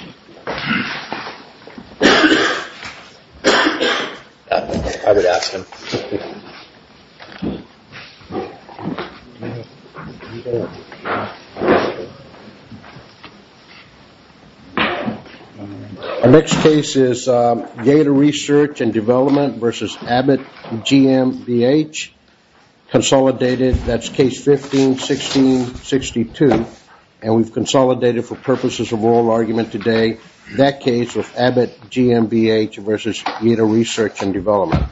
Our next case is Yeda Research and Development v. Abbott GmbH consolidated, that's case 15-16-62, and we've consolidated for purposes of oral argument today that case of Abbott GmbH v. Yeda Research and Development.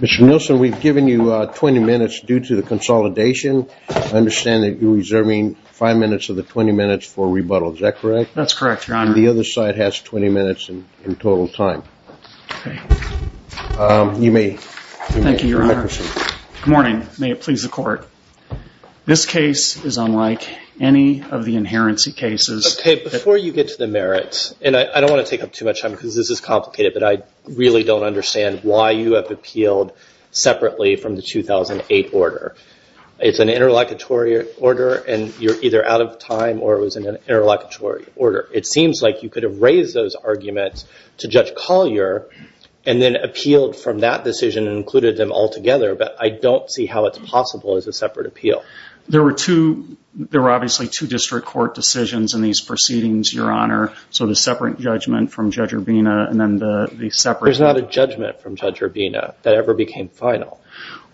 Mr. Nilsson, we've given you 20 minutes due to the consolidation. I understand that you're reserving 5 minutes of the 20 minutes for rebuttal, is that correct? That's correct, Your Honor. The other side has 20 minutes in total time. Thank you, Your Honor. Good morning. May it please the Court. This case is unlike any of the inherency cases. Okay, before you get to the merits, and I don't want to take up too much time because this is complicated, but I really don't understand why you have appealed separately from the 2008 order. It's an interlocutory order, and you're either out of time or it was an interlocutory order. It seems like you could have raised those arguments to Judge Collier and then appealed from that decision and included them all together, but I don't see how it's possible as a separate appeal. There were obviously two district court decisions in these proceedings, Your Honor, so the separate judgment from Judge Urbina and then the separate... There's not a judgment from Judge Urbina that ever became final.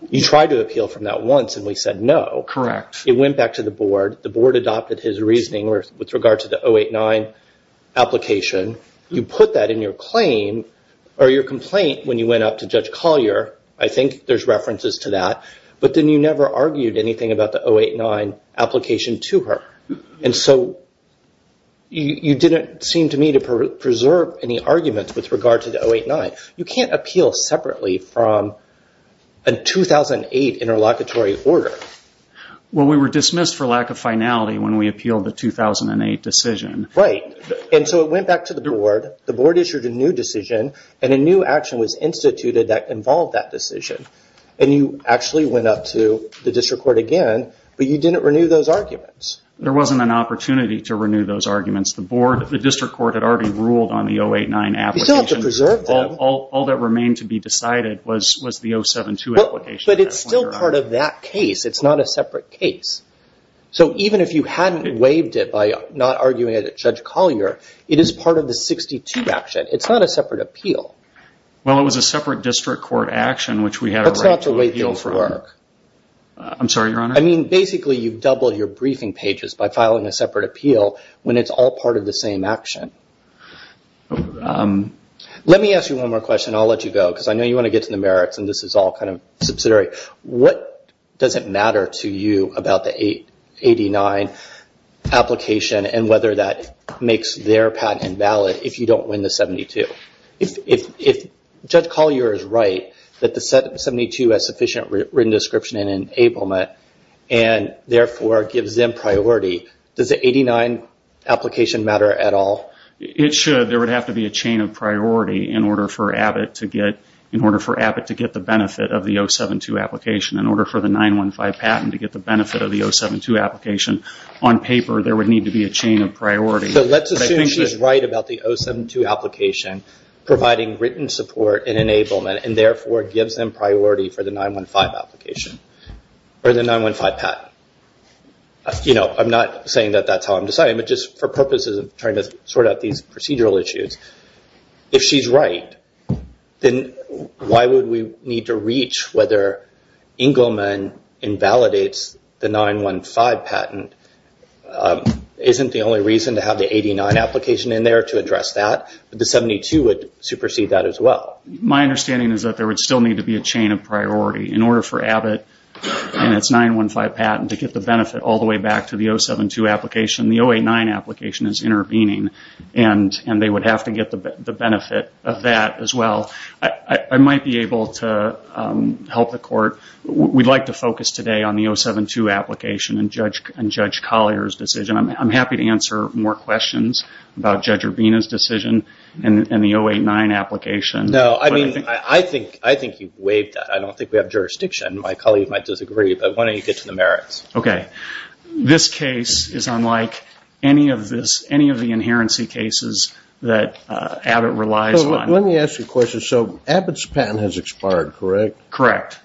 You tried to appeal from that once, and we said no. Correct. It went back to the board. The board adopted his reasoning with regard to the 08-9 application. You put that in your complaint when you went up to Judge Collier. I think there's references to that, but then you never argued anything about the 08-9 application to her. And so you didn't seem to me to preserve any arguments with regard to the 08-9. You can't appeal separately from a 2008 interlocutory order. Well, we were dismissed for lack of finality when we appealed the 2008 decision. Right. And so it went back to the board. The board issued a new decision, and a new action was instituted that involved that decision. And you actually went up to the district court again, but you didn't renew those arguments. There wasn't an opportunity to renew those arguments. The district court had already ruled on the 08-9 application. You still have to preserve them. All that remained to be decided was the 07-2 application. But it's still part of that case. It's not a separate case. So even if you hadn't waived it by not arguing it at Judge Collier, it is part of the 62 action. It's not a separate appeal. Well, it was a separate district court action, which we had a right to appeal for. That's not the way things work. I'm sorry, Your Honor. I mean, basically, you've doubled your briefing pages by filing a separate appeal when it's all part of the same action. Let me ask you one more question, and I'll let you go. Because I know you want to get to the merits, and this is all kind of subsidiary. What does it matter to you about the 89 application and whether that makes their patent invalid if you don't win the 72? If Judge Collier is right that the 72 has sufficient written description and enablement, and therefore gives them priority, does the 89 application matter at all? It should. There would have to be a chain of priority in order for Abbott to get the benefit of the 07-2 application. In order for the 915 patent to get the benefit of the 07-2 application, on paper, there would need to be a chain of priority. So let's assume she's right about the 07-2 application providing written support and enablement, and therefore gives them priority for the 915 patent. I'm not saying that that's how I'm deciding, but just for purposes of trying to sort out these procedural issues. If she's right, then why would we need to reach whether Engelman invalidates the 915 patent? Isn't the only reason to have the 89 application in there to address that? The 72 would supersede that as well. My understanding is that there would still need to be a chain of priority in order for Abbott and its 915 patent to get the benefit all the way back to the 07-2 application. The 08-9 application is intervening, and they would have to get the benefit of that as well. I might be able to help the court. We'd like to focus today on the 07-2 application and Judge Collier's decision. I'm happy to answer more questions about Judge Urbina's decision and the 08-9 application. I think you've waived that. I don't think we have jurisdiction. My colleagues might disagree, but why don't you get to the merits? This case is unlike any of the inherency cases that Abbott relies on. Let me ask you a question. Abbott's patent has expired, correct? Correct.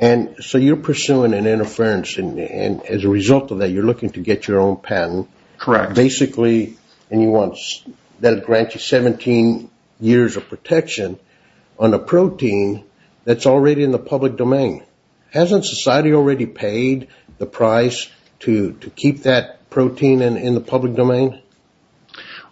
So you're pursuing an interference, and as a result of that, you're looking to get your own patent. Correct. Basically, you want that to grant you 17 years of protection on a protein that's already in the public domain. Hasn't society already paid the price to keep that protein in the public domain?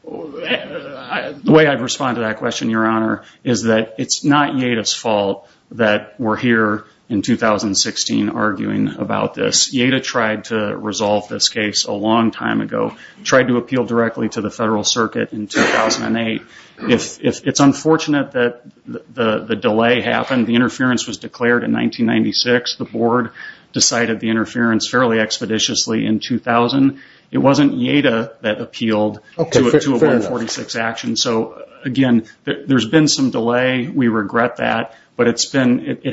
The way I'd respond to that question, Your Honor, is that it's not Yada's fault that we're here in 2016 arguing about this. Yada tried to resolve this case a long time ago. She tried to appeal directly to the Federal Circuit in 2008. It's unfortunate that the delay happened. The interference was declared in 1996. The Board decided the interference fairly expeditiously in 2000. It wasn't Yada that appealed to a 146 action. So, again, there's been some delay. We regret that, but it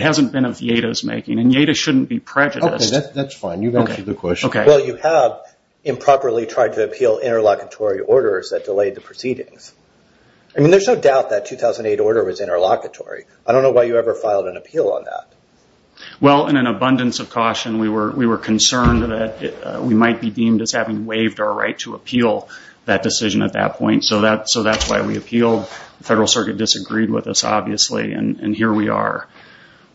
hasn't been of Yada's making, and Yada shouldn't be prejudiced. Okay, that's fine. You've answered the question. Well, you have improperly tried to appeal interlocutory orders that delayed the proceedings. I mean, there's no doubt that 2008 order was interlocutory. I don't know why you ever filed an appeal on that. Well, in an abundance of caution, we were concerned that we might be deemed as having waived our right to appeal that decision at that point. So that's why we appealed. The Federal Circuit disagreed with us, obviously, and here we are.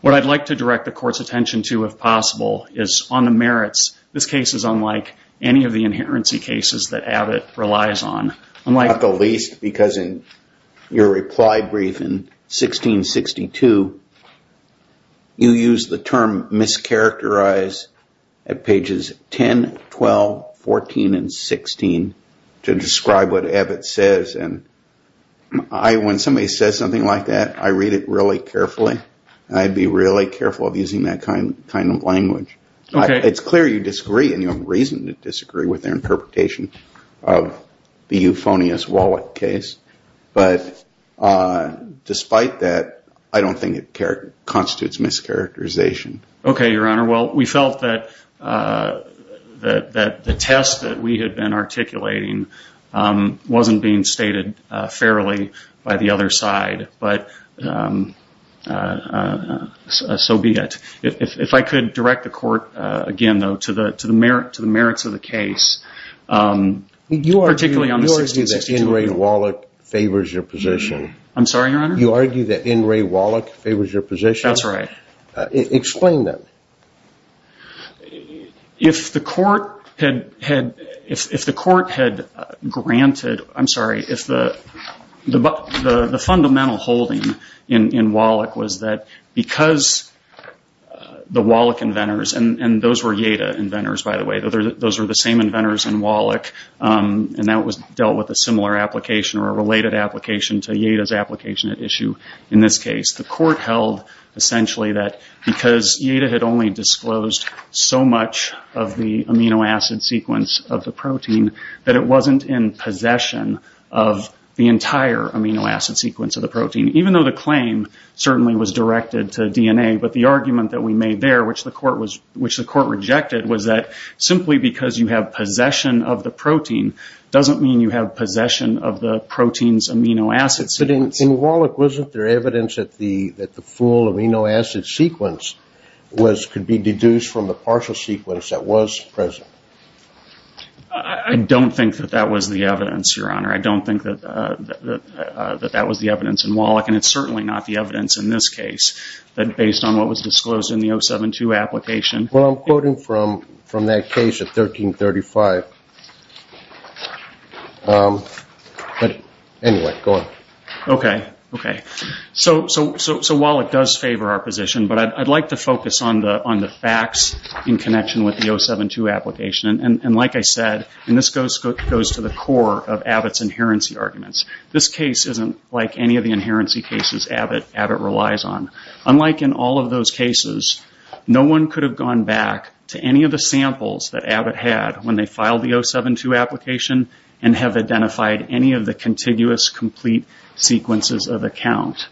What I'd like to direct the Court's attention to, if possible, is on the merits. This case is unlike any of the inherency cases that Abbott relies on. Not the least, because in your reply brief in 1662, you used the term mischaracterized at pages 10, 12, 14, and 16 to describe what Abbott says. When somebody says something like that, I read it really carefully, and I'd be really careful of using that kind of language. It's clear you disagree, and you have reason to disagree with their interpretation of the euphonious Wallach case. But despite that, I don't think it constitutes mischaracterization. Okay, Your Honor. Well, we felt that the test that we had been articulating wasn't being stated fairly by the other side, but so be it. If I could direct the Court, again, though, to the merits of the case, particularly on the 1662— You argue that N. Ray Wallach favors your position. I'm sorry, Your Honor? You argue that N. Ray Wallach favors your position? That's right. Explain that. If the Court had granted—I'm sorry, if the fundamental holding in Wallach was that because the Wallach inventors— and those were Yeda inventors, by the way, those were the same inventors in Wallach, and that was dealt with a similar application or a related application to Yeda's application at issue in this case— the Court held, essentially, that because Yeda had only disclosed so much of the amino acid sequence of the protein, that it wasn't in possession of the entire amino acid sequence of the protein, even though the claim certainly was directed to DNA. But the argument that we made there, which the Court rejected, was that simply because you have possession of the protein doesn't mean you have possession of the protein's amino acid sequence. You said in Wallach, wasn't there evidence that the full amino acid sequence could be deduced from the partial sequence that was present? I don't think that that was the evidence, Your Honor. I don't think that that was the evidence in Wallach, and it's certainly not the evidence in this case that based on what was disclosed in the 072 application— Well, I'm quoting from that case of 1335. Anyway, go on. Okay. So Wallach does favor our position, but I'd like to focus on the facts in connection with the 072 application. And like I said, and this goes to the core of Abbott's inherency arguments, this case isn't like any of the inherency cases Abbott relies on. Unlike in all of those cases, no one could have gone back to any of the samples that Abbott had when they filed the 072 application and have identified any of the contiguous complete sequences of account.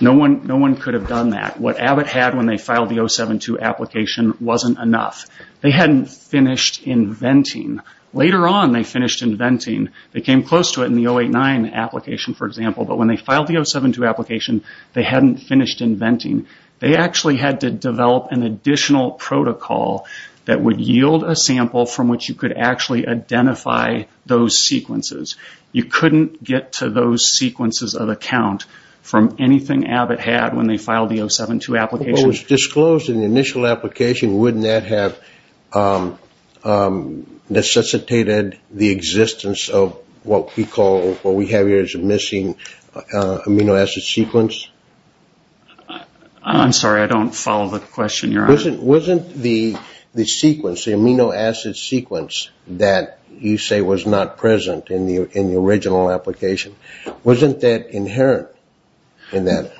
No one could have done that. What Abbott had when they filed the 072 application wasn't enough. They hadn't finished inventing. Later on, they finished inventing. They came close to it in the 089 application, for example, but when they filed the 072 application, they hadn't finished inventing. They actually had to develop an additional protocol that would yield a sample from which you could actually identify those sequences. You couldn't get to those sequences of account from anything Abbott had when they filed the 072 application. If it was disclosed in the initial application, wouldn't that have necessitated the existence of what we call, what we have here is a missing amino acid sequence? I'm sorry, I don't follow the question you're asking. Wasn't the sequence, the amino acid sequence that you say was not present in the original application, wasn't that inherent in that?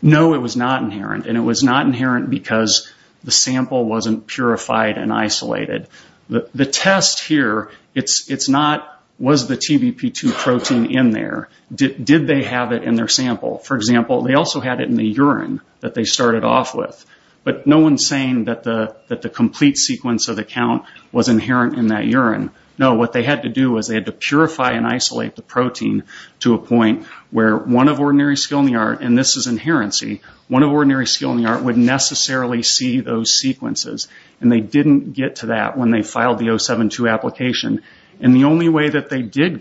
No, it was not inherent. It was not inherent because the sample wasn't purified and isolated. The test here, it's not, was the TBP2 protein in there? Did they have it in their sample? For example, they also had it in the urine that they started off with, but no one's saying that the complete sequence of the count was inherent in that urine. No, what they had to do was they had to purify and isolate the protein to a point where one of ordinary skill in the art, and this is inherency, one of ordinary skill in the art would necessarily see those sequences, and they didn't get to that when they filed the 072 application. The only way that they did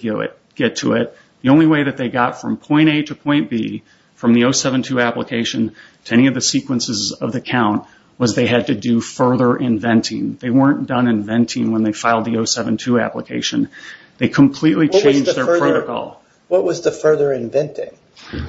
get to it, the only way that they got from point A to point B from the 072 application to any of the sequences of the count was they had to do further inventing. They weren't done inventing when they filed the 072 application. They completely changed their protocol. What was the further inventing?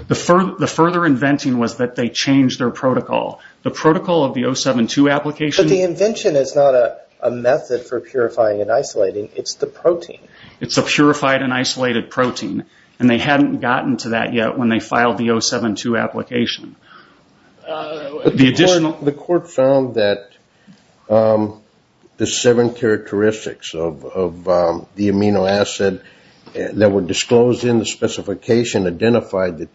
The further inventing was that they changed their protocol. The protocol of the 072 application. But the invention is not a method for purifying and isolating. It's the protein. It's a purified and isolated protein, and they hadn't gotten to that yet when they filed the 072 application. The court found that the seven characteristics of the amino acid that were disclosed in the specification identified the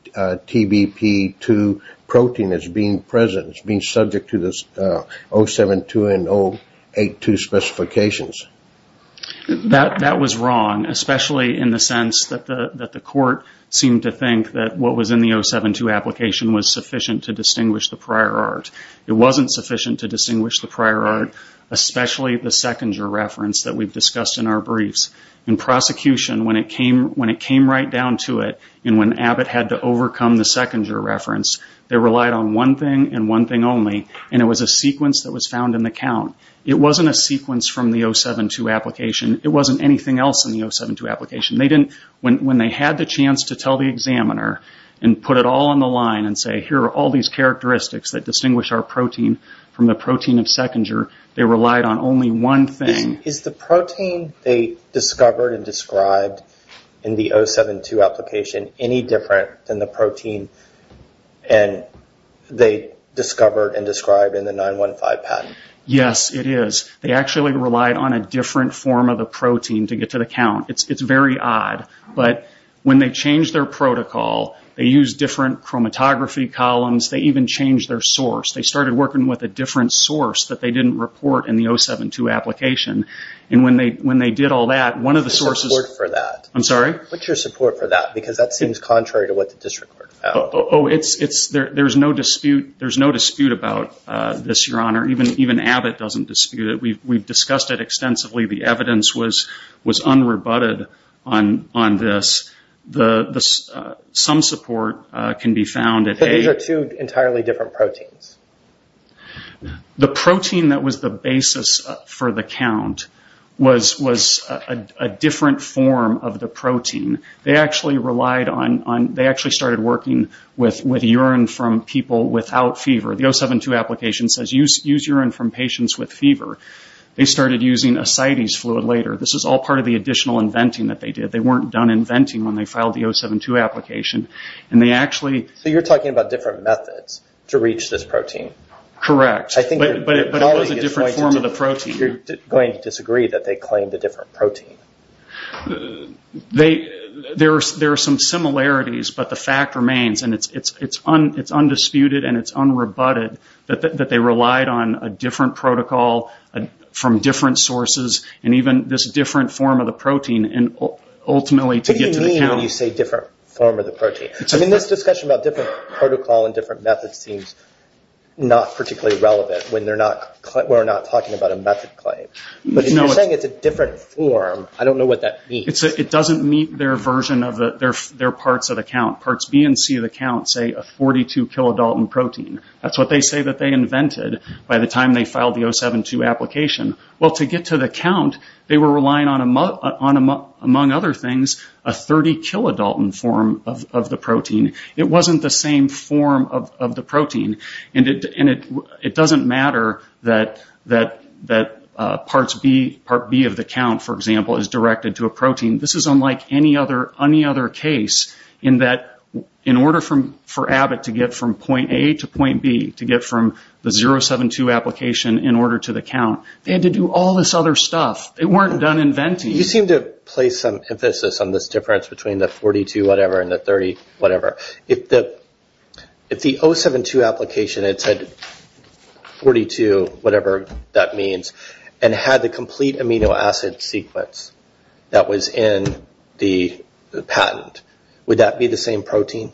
TBP2 protein as being present, as being subject to the 072 and 082 specifications. That was wrong, especially in the sense that the court seemed to think that what was in the 072 application was sufficient to distinguish the prior art. It wasn't sufficient to distinguish the prior art, especially the Sechinger reference that we've discussed in our briefs. In prosecution, when it came right down to it, and when Abbott had to overcome the Sechinger reference, they relied on one thing and one thing only, and it was a sequence that was found in the count. It wasn't a sequence from the 072 application. It wasn't anything else in the 072 application. When they had the chance to tell the examiner and put it all on the line and say, here are all these characteristics that distinguish our protein from the protein of Sechinger, they relied on only one thing. Is the protein they discovered and described in the 072 application any different than the protein they discovered and described in the 915 patent? Yes, it is. They actually relied on a different form of the protein to get to the count. It's very odd, but when they changed their protocol, they used different chromatography columns. They even changed their source. They started working with a different source that they didn't report in the 072 application, and when they did all that, one of the sources... What's your support for that? I'm sorry? What's your support for that? Because that seems contrary to what the district court found. Oh, there's no dispute about this, Your Honor. Even Abbott doesn't dispute it. We've discussed it extensively. The evidence was unrebutted on this. Some support can be found at age... The protein that was the basis for the count was a different form of the protein. They actually relied on... They actually started working with urine from people without fever. The 072 application says use urine from patients with fever. They started using ascites fluid later. This is all part of the additional inventing that they did. They weren't done inventing when they filed the 072 application, and they actually... Correct. But it was a different form of the protein. You're going to disagree that they claimed a different protein. There are some similarities, but the fact remains, and it's undisputed and it's unrebutted that they relied on a different protocol from different sources and even this different form of the protein, and ultimately to get to the count... What do you mean when you say different form of the protein? This discussion about different protocol and different methods seems not particularly relevant when we're not talking about a method claim. But if you're saying it's a different form, I don't know what that means. It doesn't meet their version of their parts of the count. Parts B and C of the count say a 42 kilodalton protein. That's what they say that they invented by the time they filed the 072 application. Well, to get to the count, they were relying on, among other things, a 30 kilodalton form of the protein. It wasn't the same form of the protein, and it doesn't matter that part B of the count, for example, is directed to a protein. This is unlike any other case in that in order for Abbott to get from point A to point B, to get from the 072 application in order to the count, they had to do all this other stuff. They weren't done inventing. You seem to place some emphasis on this difference between the 42-whatever and the 30-whatever. If the 072 application had said 42-whatever that means and had the complete amino acid sequence that was in the patent, would that be the same protein,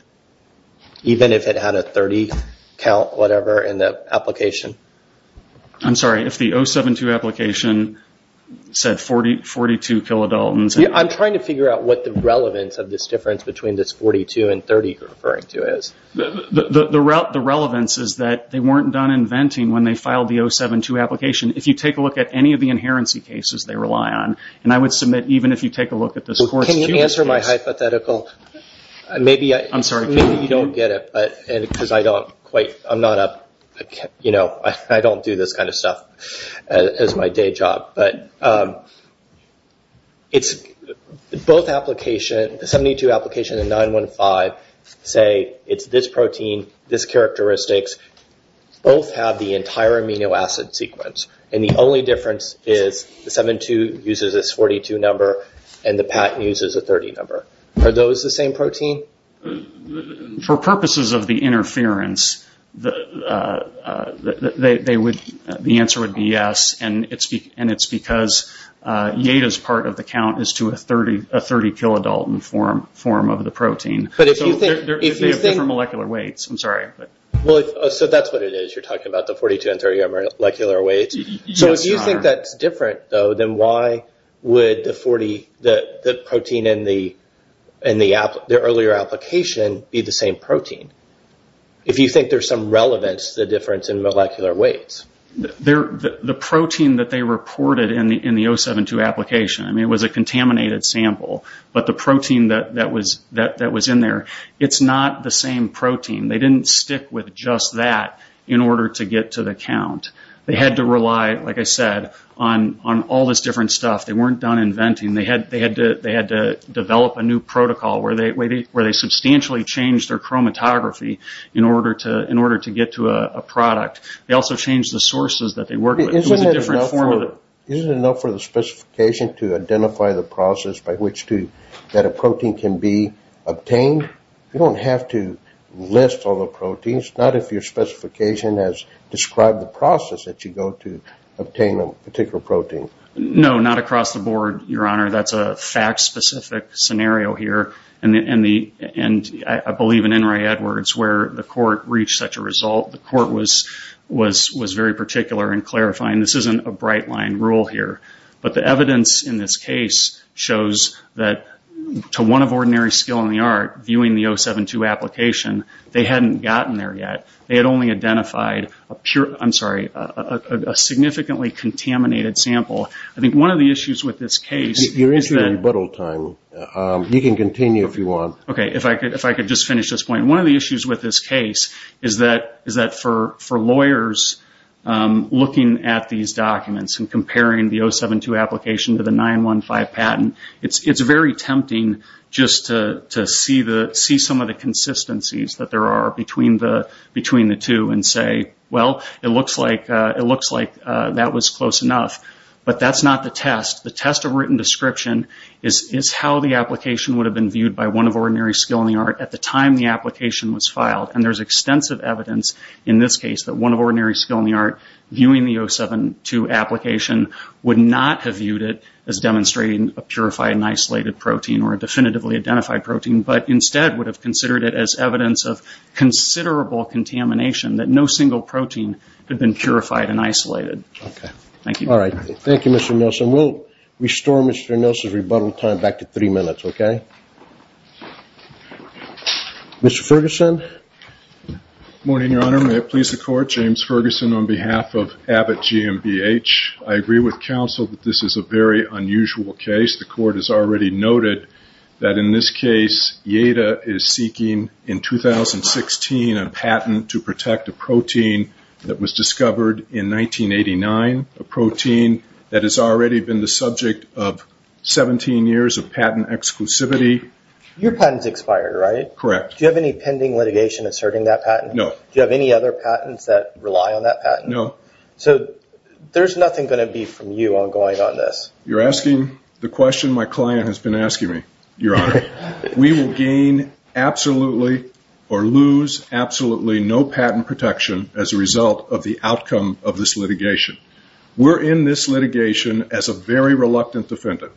even if it had a 30-count-whatever in the application? I'm sorry. If the 072 application said 42 kilodaltons... I'm trying to figure out what the relevance of this difference between this 42 and 30 you're referring to is. The relevance is that they weren't done inventing when they filed the 072 application. If you take a look at any of the inherency cases they rely on, and I would submit even if you take a look at this course... Can you answer my hypothetical? Maybe you don't get it. I don't do this kind of stuff as my day job. Both applications, the 072 application and 915, say it's this protein, this characteristic. Both have the entire amino acid sequence. The only difference is the 072 uses a 42 number and the patent uses a 30 number. Are those the same protein? For purposes of the interference, the answer would be yes, and it's because Yada's part of the count is to a 30 kilodalton form of the protein. They have different molecular weights. I'm sorry. That's what it is. You're talking about the 42 and 30 molecular weights. If you think that's different, though, then why would the protein in the earlier application be the same protein? If you think there's some relevance to the difference in molecular weights. The protein that they reported in the 072 application, it was a contaminated sample, but the protein that was in there, it's not the same protein. They didn't stick with just that in order to get to the count. They had to rely, like I said, on all this different stuff. They weren't done inventing. They had to develop a new protocol where they substantially changed their chromatography in order to get to a product. They also changed the sources that they worked with. Isn't it enough for the specification to identify the process that a protein can be obtained? You don't have to list all the proteins. Not if your specification has described the process that you go to obtain a particular protein. No, not across the board, Your Honor. That's a fact-specific scenario here. And I believe in Enri Edwards where the court reached such a result, the court was very particular in clarifying this isn't a bright-line rule here. But the evidence in this case shows that to one of ordinary skill in the art, viewing the 072 application, they hadn't gotten there yet. They had only identified a significantly contaminated sample. I think one of the issues with this case is that for lawyers looking at these documents and comparing the 072 application to the 915 patent, it's very tempting just to see some of the consistencies that there are between the two and say, well, it looks like that was close enough. But that's not the test. The test of written description is how the application would have been viewed by one of ordinary skill in the art at the time the application was filed. And there's extensive evidence in this case that one of ordinary skill in the art, viewing the 072 application, would not have viewed it as demonstrating a purified and isolated protein or a definitively identified protein, but instead would have considered it as evidence of considerable contamination, that no single protein had been purified and isolated. Thank you. All right. Thank you, Mr. Nelson. We'll restore Mr. Nelson's rebuttal time back to three minutes, okay? Mr. Ferguson? Good morning, Your Honor. Your Honor, may it please the Court? James Ferguson on behalf of Abbott GmbH. I agree with counsel that this is a very unusual case. The Court has already noted that in this case, IATA is seeking in 2016 a patent to protect a protein that was discovered in 1989, a protein that has already been the subject of 17 years of patent exclusivity. Your patent's expired, right? Correct. Do you have any pending litigation asserting that patent? No. Do you have any other patents that rely on that patent? No. So there's nothing going to be from you ongoing on this? You're asking the question my client has been asking me, Your Honor. We will gain absolutely or lose absolutely no patent protection as a result of the outcome of this litigation. We're in this litigation as a very reluctant defendant.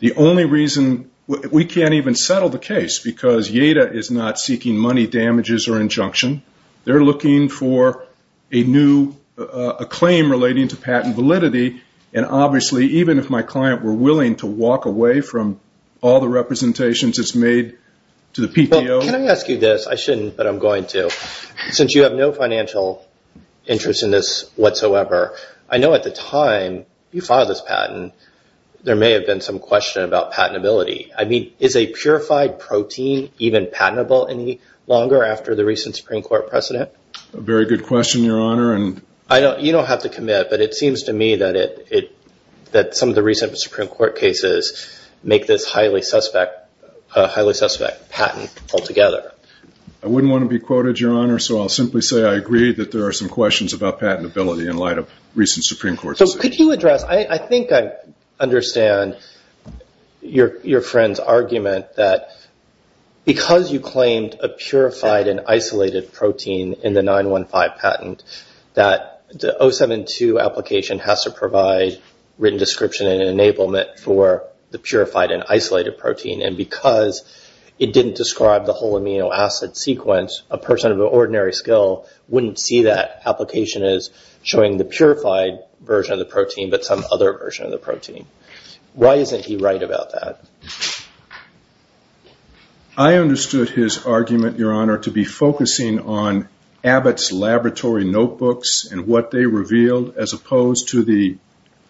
The only reason we can't even settle the case because IATA is not seeking money damages or injunction. They're looking for a new claim relating to patent validity, and obviously even if my client were willing to walk away from all the representations it's made to the PTO. Can I ask you this? I shouldn't, but I'm going to. Since you have no financial interest in this whatsoever, I know at the time you filed this patent there may have been some question about patentability. I mean, is a purified protein even patentable any longer after the recent Supreme Court precedent? Very good question, Your Honor. You don't have to commit, but it seems to me that some of the recent Supreme Court cases make this highly suspect patent altogether. I wouldn't want to be quoted, Your Honor, so I'll simply say I agree that there are some questions about patentability in light of recent Supreme Court decisions. Could you address? I think I understand your friend's argument that because you claimed a purified and isolated protein in the 915 patent, that the 072 application has to provide written description and enablement for the purified and isolated protein, and because it didn't describe the whole amino acid sequence, a person of ordinary skill wouldn't see that application as showing the purified version of the protein, but some other version of the protein. Why isn't he right about that? I understood his argument, Your Honor, to be focusing on Abbott's laboratory notebooks and what they revealed as opposed to the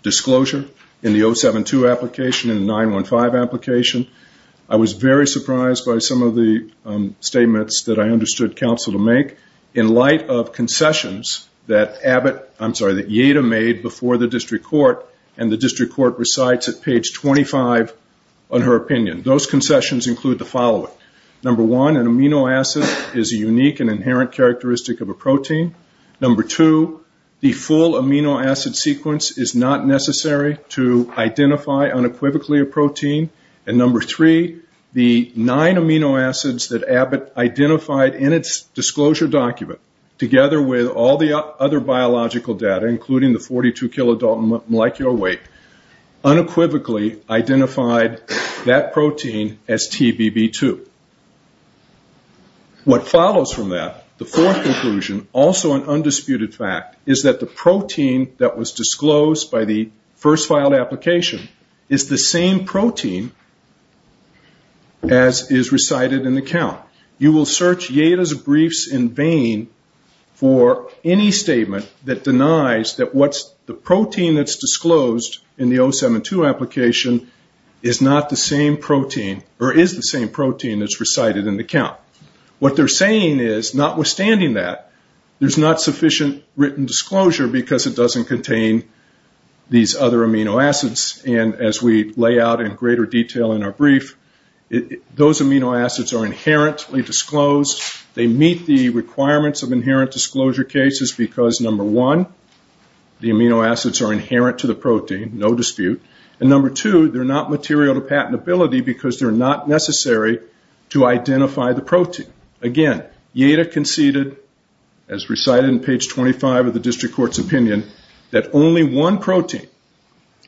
disclosure in the 072 application and the 915 application. I was very surprised by some of the statements that I understood counsel to make in light of concessions that Abbott, I'm sorry, that Yada made before the district court, and the district court recites at page 25 on her opinion. Those concessions include the following. Number one, an amino acid is a unique and inherent characteristic of a protein. Number two, the full amino acid sequence is not necessary to identify unequivocally a protein. And number three, the nine amino acids that Abbott identified in its disclosure document, together with all the other biological data, including the 42 kilomolecular weight, unequivocally identified that protein as TBB2. What follows from that, the fourth conclusion, also an undisputed fact, is that the protein that was disclosed by the first filed application is the same protein as is recited in the count. You will search Yada's briefs in vain for any statement that denies that the protein that's disclosed in the 072 application is the same protein that's recited in the count. What they're saying is, notwithstanding that, there's not sufficient written disclosure because it doesn't contain these other amino acids. And as we lay out in greater detail in our brief, those amino acids are inherently disclosed. They meet the requirements of inherent disclosure cases because, number one, the amino acids are inherent to the protein, no dispute. And number two, they're not material to patentability because they're not necessary to identify the protein. Again, Yada conceded, as recited in page 25 of the district court's opinion, that only one protein,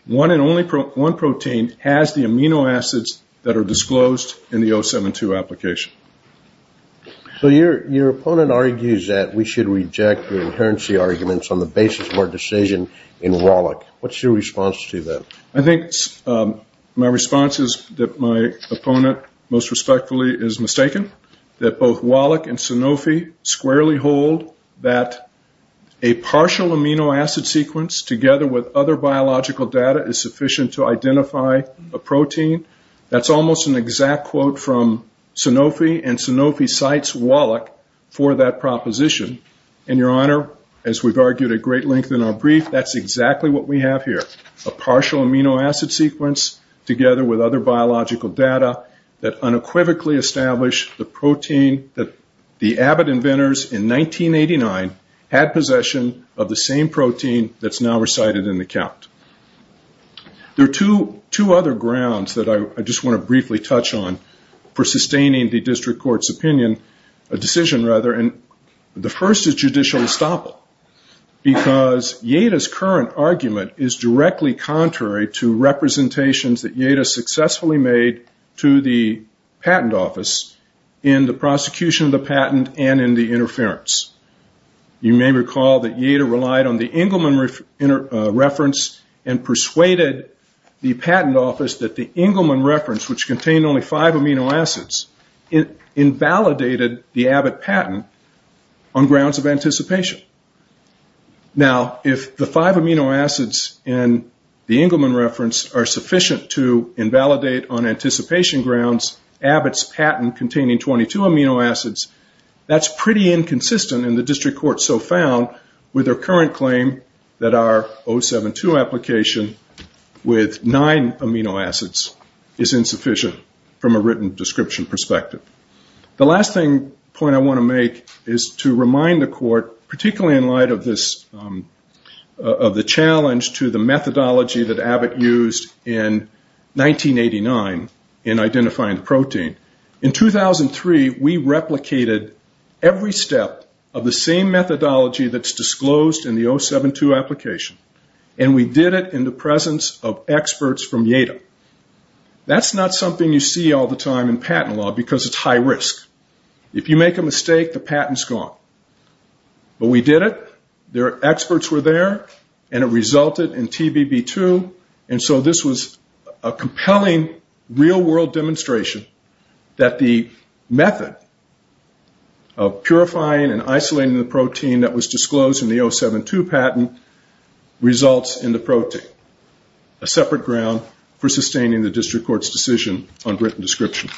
one and only one protein, has the amino acids that are disclosed in the 072 application. So your opponent argues that we should reject the inherency arguments on the basis of our decision in Wallach. What's your response to that? I think my response is that my opponent, most respectfully, is mistaken. That both Wallach and Sanofi squarely hold that a partial amino acid sequence together with other biological data is sufficient to identify a protein. That's almost an exact quote from Sanofi, and Sanofi cites Wallach for that proposition. And, Your Honor, as we've argued at great length in our brief, that's exactly what we have here, a partial amino acid sequence together with other biological data that unequivocally established the protein that the Abbott inventors in 1989 had possession of the same protein that's now recited in the count. There are two other grounds that I just want to briefly touch on for sustaining the district court's opinion, a decision rather, and the first is judicial estoppel. Because Yada's current argument is directly contrary to representations that Yada successfully made to the patent office in the prosecution of the patent and in the interference. You may recall that Yada relied on the Engelman reference and persuaded the patent office that the Engelman reference, which contained only five amino acids, invalidated the Abbott patent on grounds of anticipation. Now, if the five amino acids in the Engelman reference are sufficient to invalidate, on anticipation grounds, Abbott's patent containing 22 amino acids, that's pretty inconsistent in the district court so found with their current claim that our 072 application with nine amino acids is insufficient from a written description perspective. The last point I want to make is to remind the court, particularly in light of the challenge to the methodology that Abbott used in 1989 in identifying the protein. In 2003, we replicated every step of the same methodology that's disclosed in the 072 application, and we did it in the presence of experts from Yada. That's not something you see all the time in patent law because it's high risk. If you make a mistake, the patent's gone. But we did it, their experts were there, and it resulted in TBB2, and so this was a compelling real-world demonstration that the method of purifying and isolating the protein that was disclosed in the 072 patent results in the protein, a separate ground for sustaining the district court's decision on written description.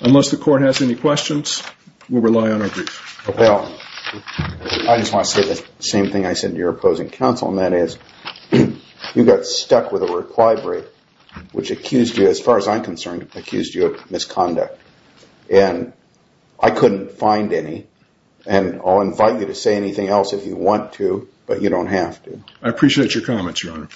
Unless the court has any questions, we'll rely on our brief. Well, I just want to say the same thing I said to your opposing counsel, and that is you got stuck with a requi-break, which accused you, as far as I'm concerned, accused you of misconduct, and I couldn't find any, and I'll invite you to say anything else if you want to, but you don't have to. I appreciate your comments, Your Honor.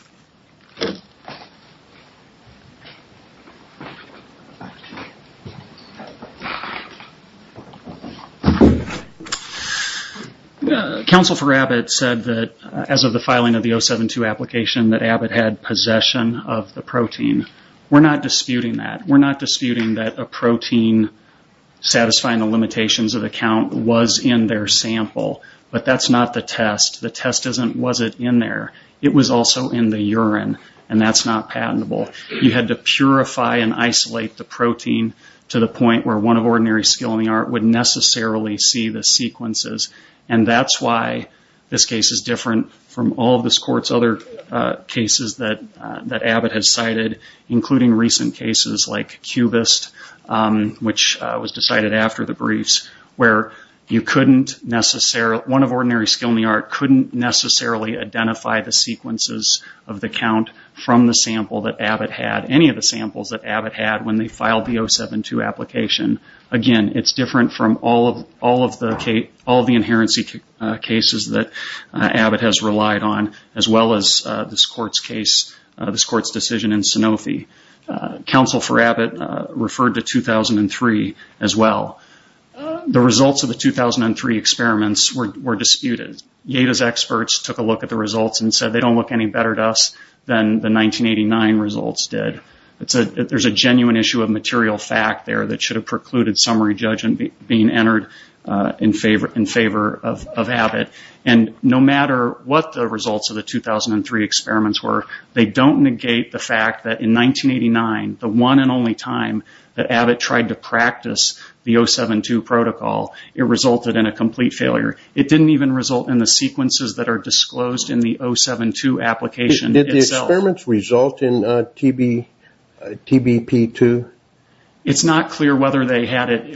Counsel for Abbott said that, as of the filing of the 072 application, that Abbott had possession of the protein. We're not disputing that. We're not disputing that a protein satisfying the limitations of the count was in their sample, but that's not the test. The test wasn't in there. It was also in the urine, and that's not patentable. You had to purify and isolate the protein to the point where one of ordinary skill in the art would necessarily see the sequences, and that's why this case is different from all of this court's other cases that Abbott has cited, including recent cases like Cubist, which was decided after the briefs, where one of ordinary skill in the art couldn't necessarily identify the sequences of the count from the sample that Abbott had, any of the samples that Abbott had when they filed the 072 application. Again, it's different from all of the inherency cases that Abbott has relied on, as well as this court's case, this court's decision in Sanofi. Counsel for Abbott referred to 2003 as well. The results of the 2003 experiments were disputed. Yada's experts took a look at the results and said they don't look any better to us than the 1989 results did. There's a genuine issue of material fact there that should have precluded summary judgment being entered in favor of Abbott, and no matter what the results of the 2003 experiments were, they don't negate the fact that in 1989, the one and only time that Abbott tried to practice the 072 protocol, it resulted in a complete failure. It didn't even result in the sequences that are disclosed in the 072 application itself. Did the experiments result in TBP2? It's not clear whether they had it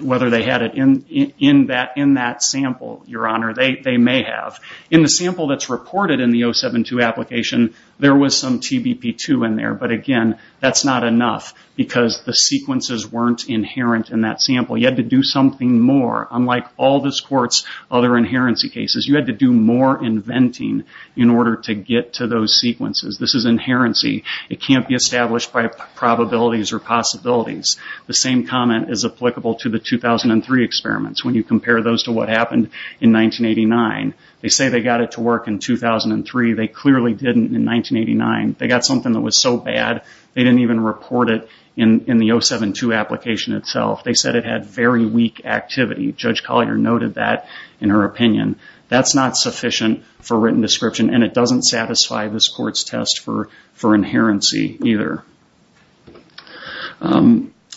in that sample, Your Honor. They may have. In the sample that's reported in the 072 application, there was some TBP2 in there, but again, that's not enough because the sequences weren't inherent in that sample. You had to do something more. Unlike all this court's other inherency cases, you had to do more inventing in order to get to those sequences. This is inherency. It can't be established by probabilities or possibilities. The same comment is applicable to the 2003 experiments. When you compare those to what happened in 1989, they say they got it to work in 2003. They clearly didn't in 1989. They got something that was so bad, they didn't even report it in the 072 application itself. They said it had very weak activity. Judge Collier noted that in her opinion. That's not sufficient for written description, and it doesn't satisfy this court's test for inherency either.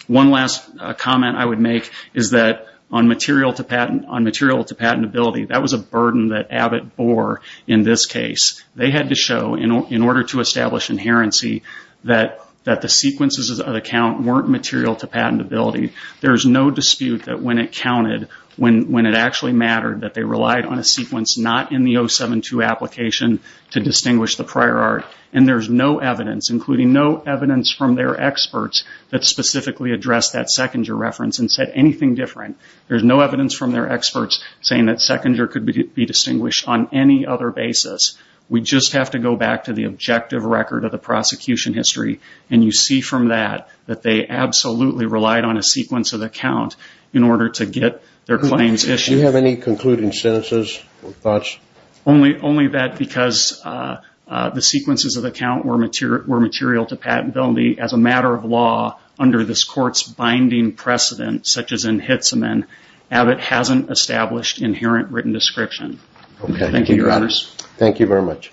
One last comment I would make is that on material to patentability, that was a burden that Abbott bore in this case. They had to show, in order to establish inherency, that the sequences of the count weren't material to patentability. There's no dispute that when it counted, when it actually mattered, that they relied on a sequence not in the 072 application to distinguish the prior art. And there's no evidence, including no evidence from their experts, that specifically addressed that Sechinger reference and said anything different. There's no evidence from their experts saying that Sechinger could be distinguished on any other basis. We just have to go back to the objective record of the prosecution history, and you see from that that they absolutely relied on a sequence of the count in order to get their claims issued. Do you have any concluding sentences or thoughts? Only that because the sequences of the count were material to patentability. As a matter of law, under this court's binding precedent, such as in Hitzeman, Abbott hasn't established inherent written description. Thank you, Your Honors. Thank you very much.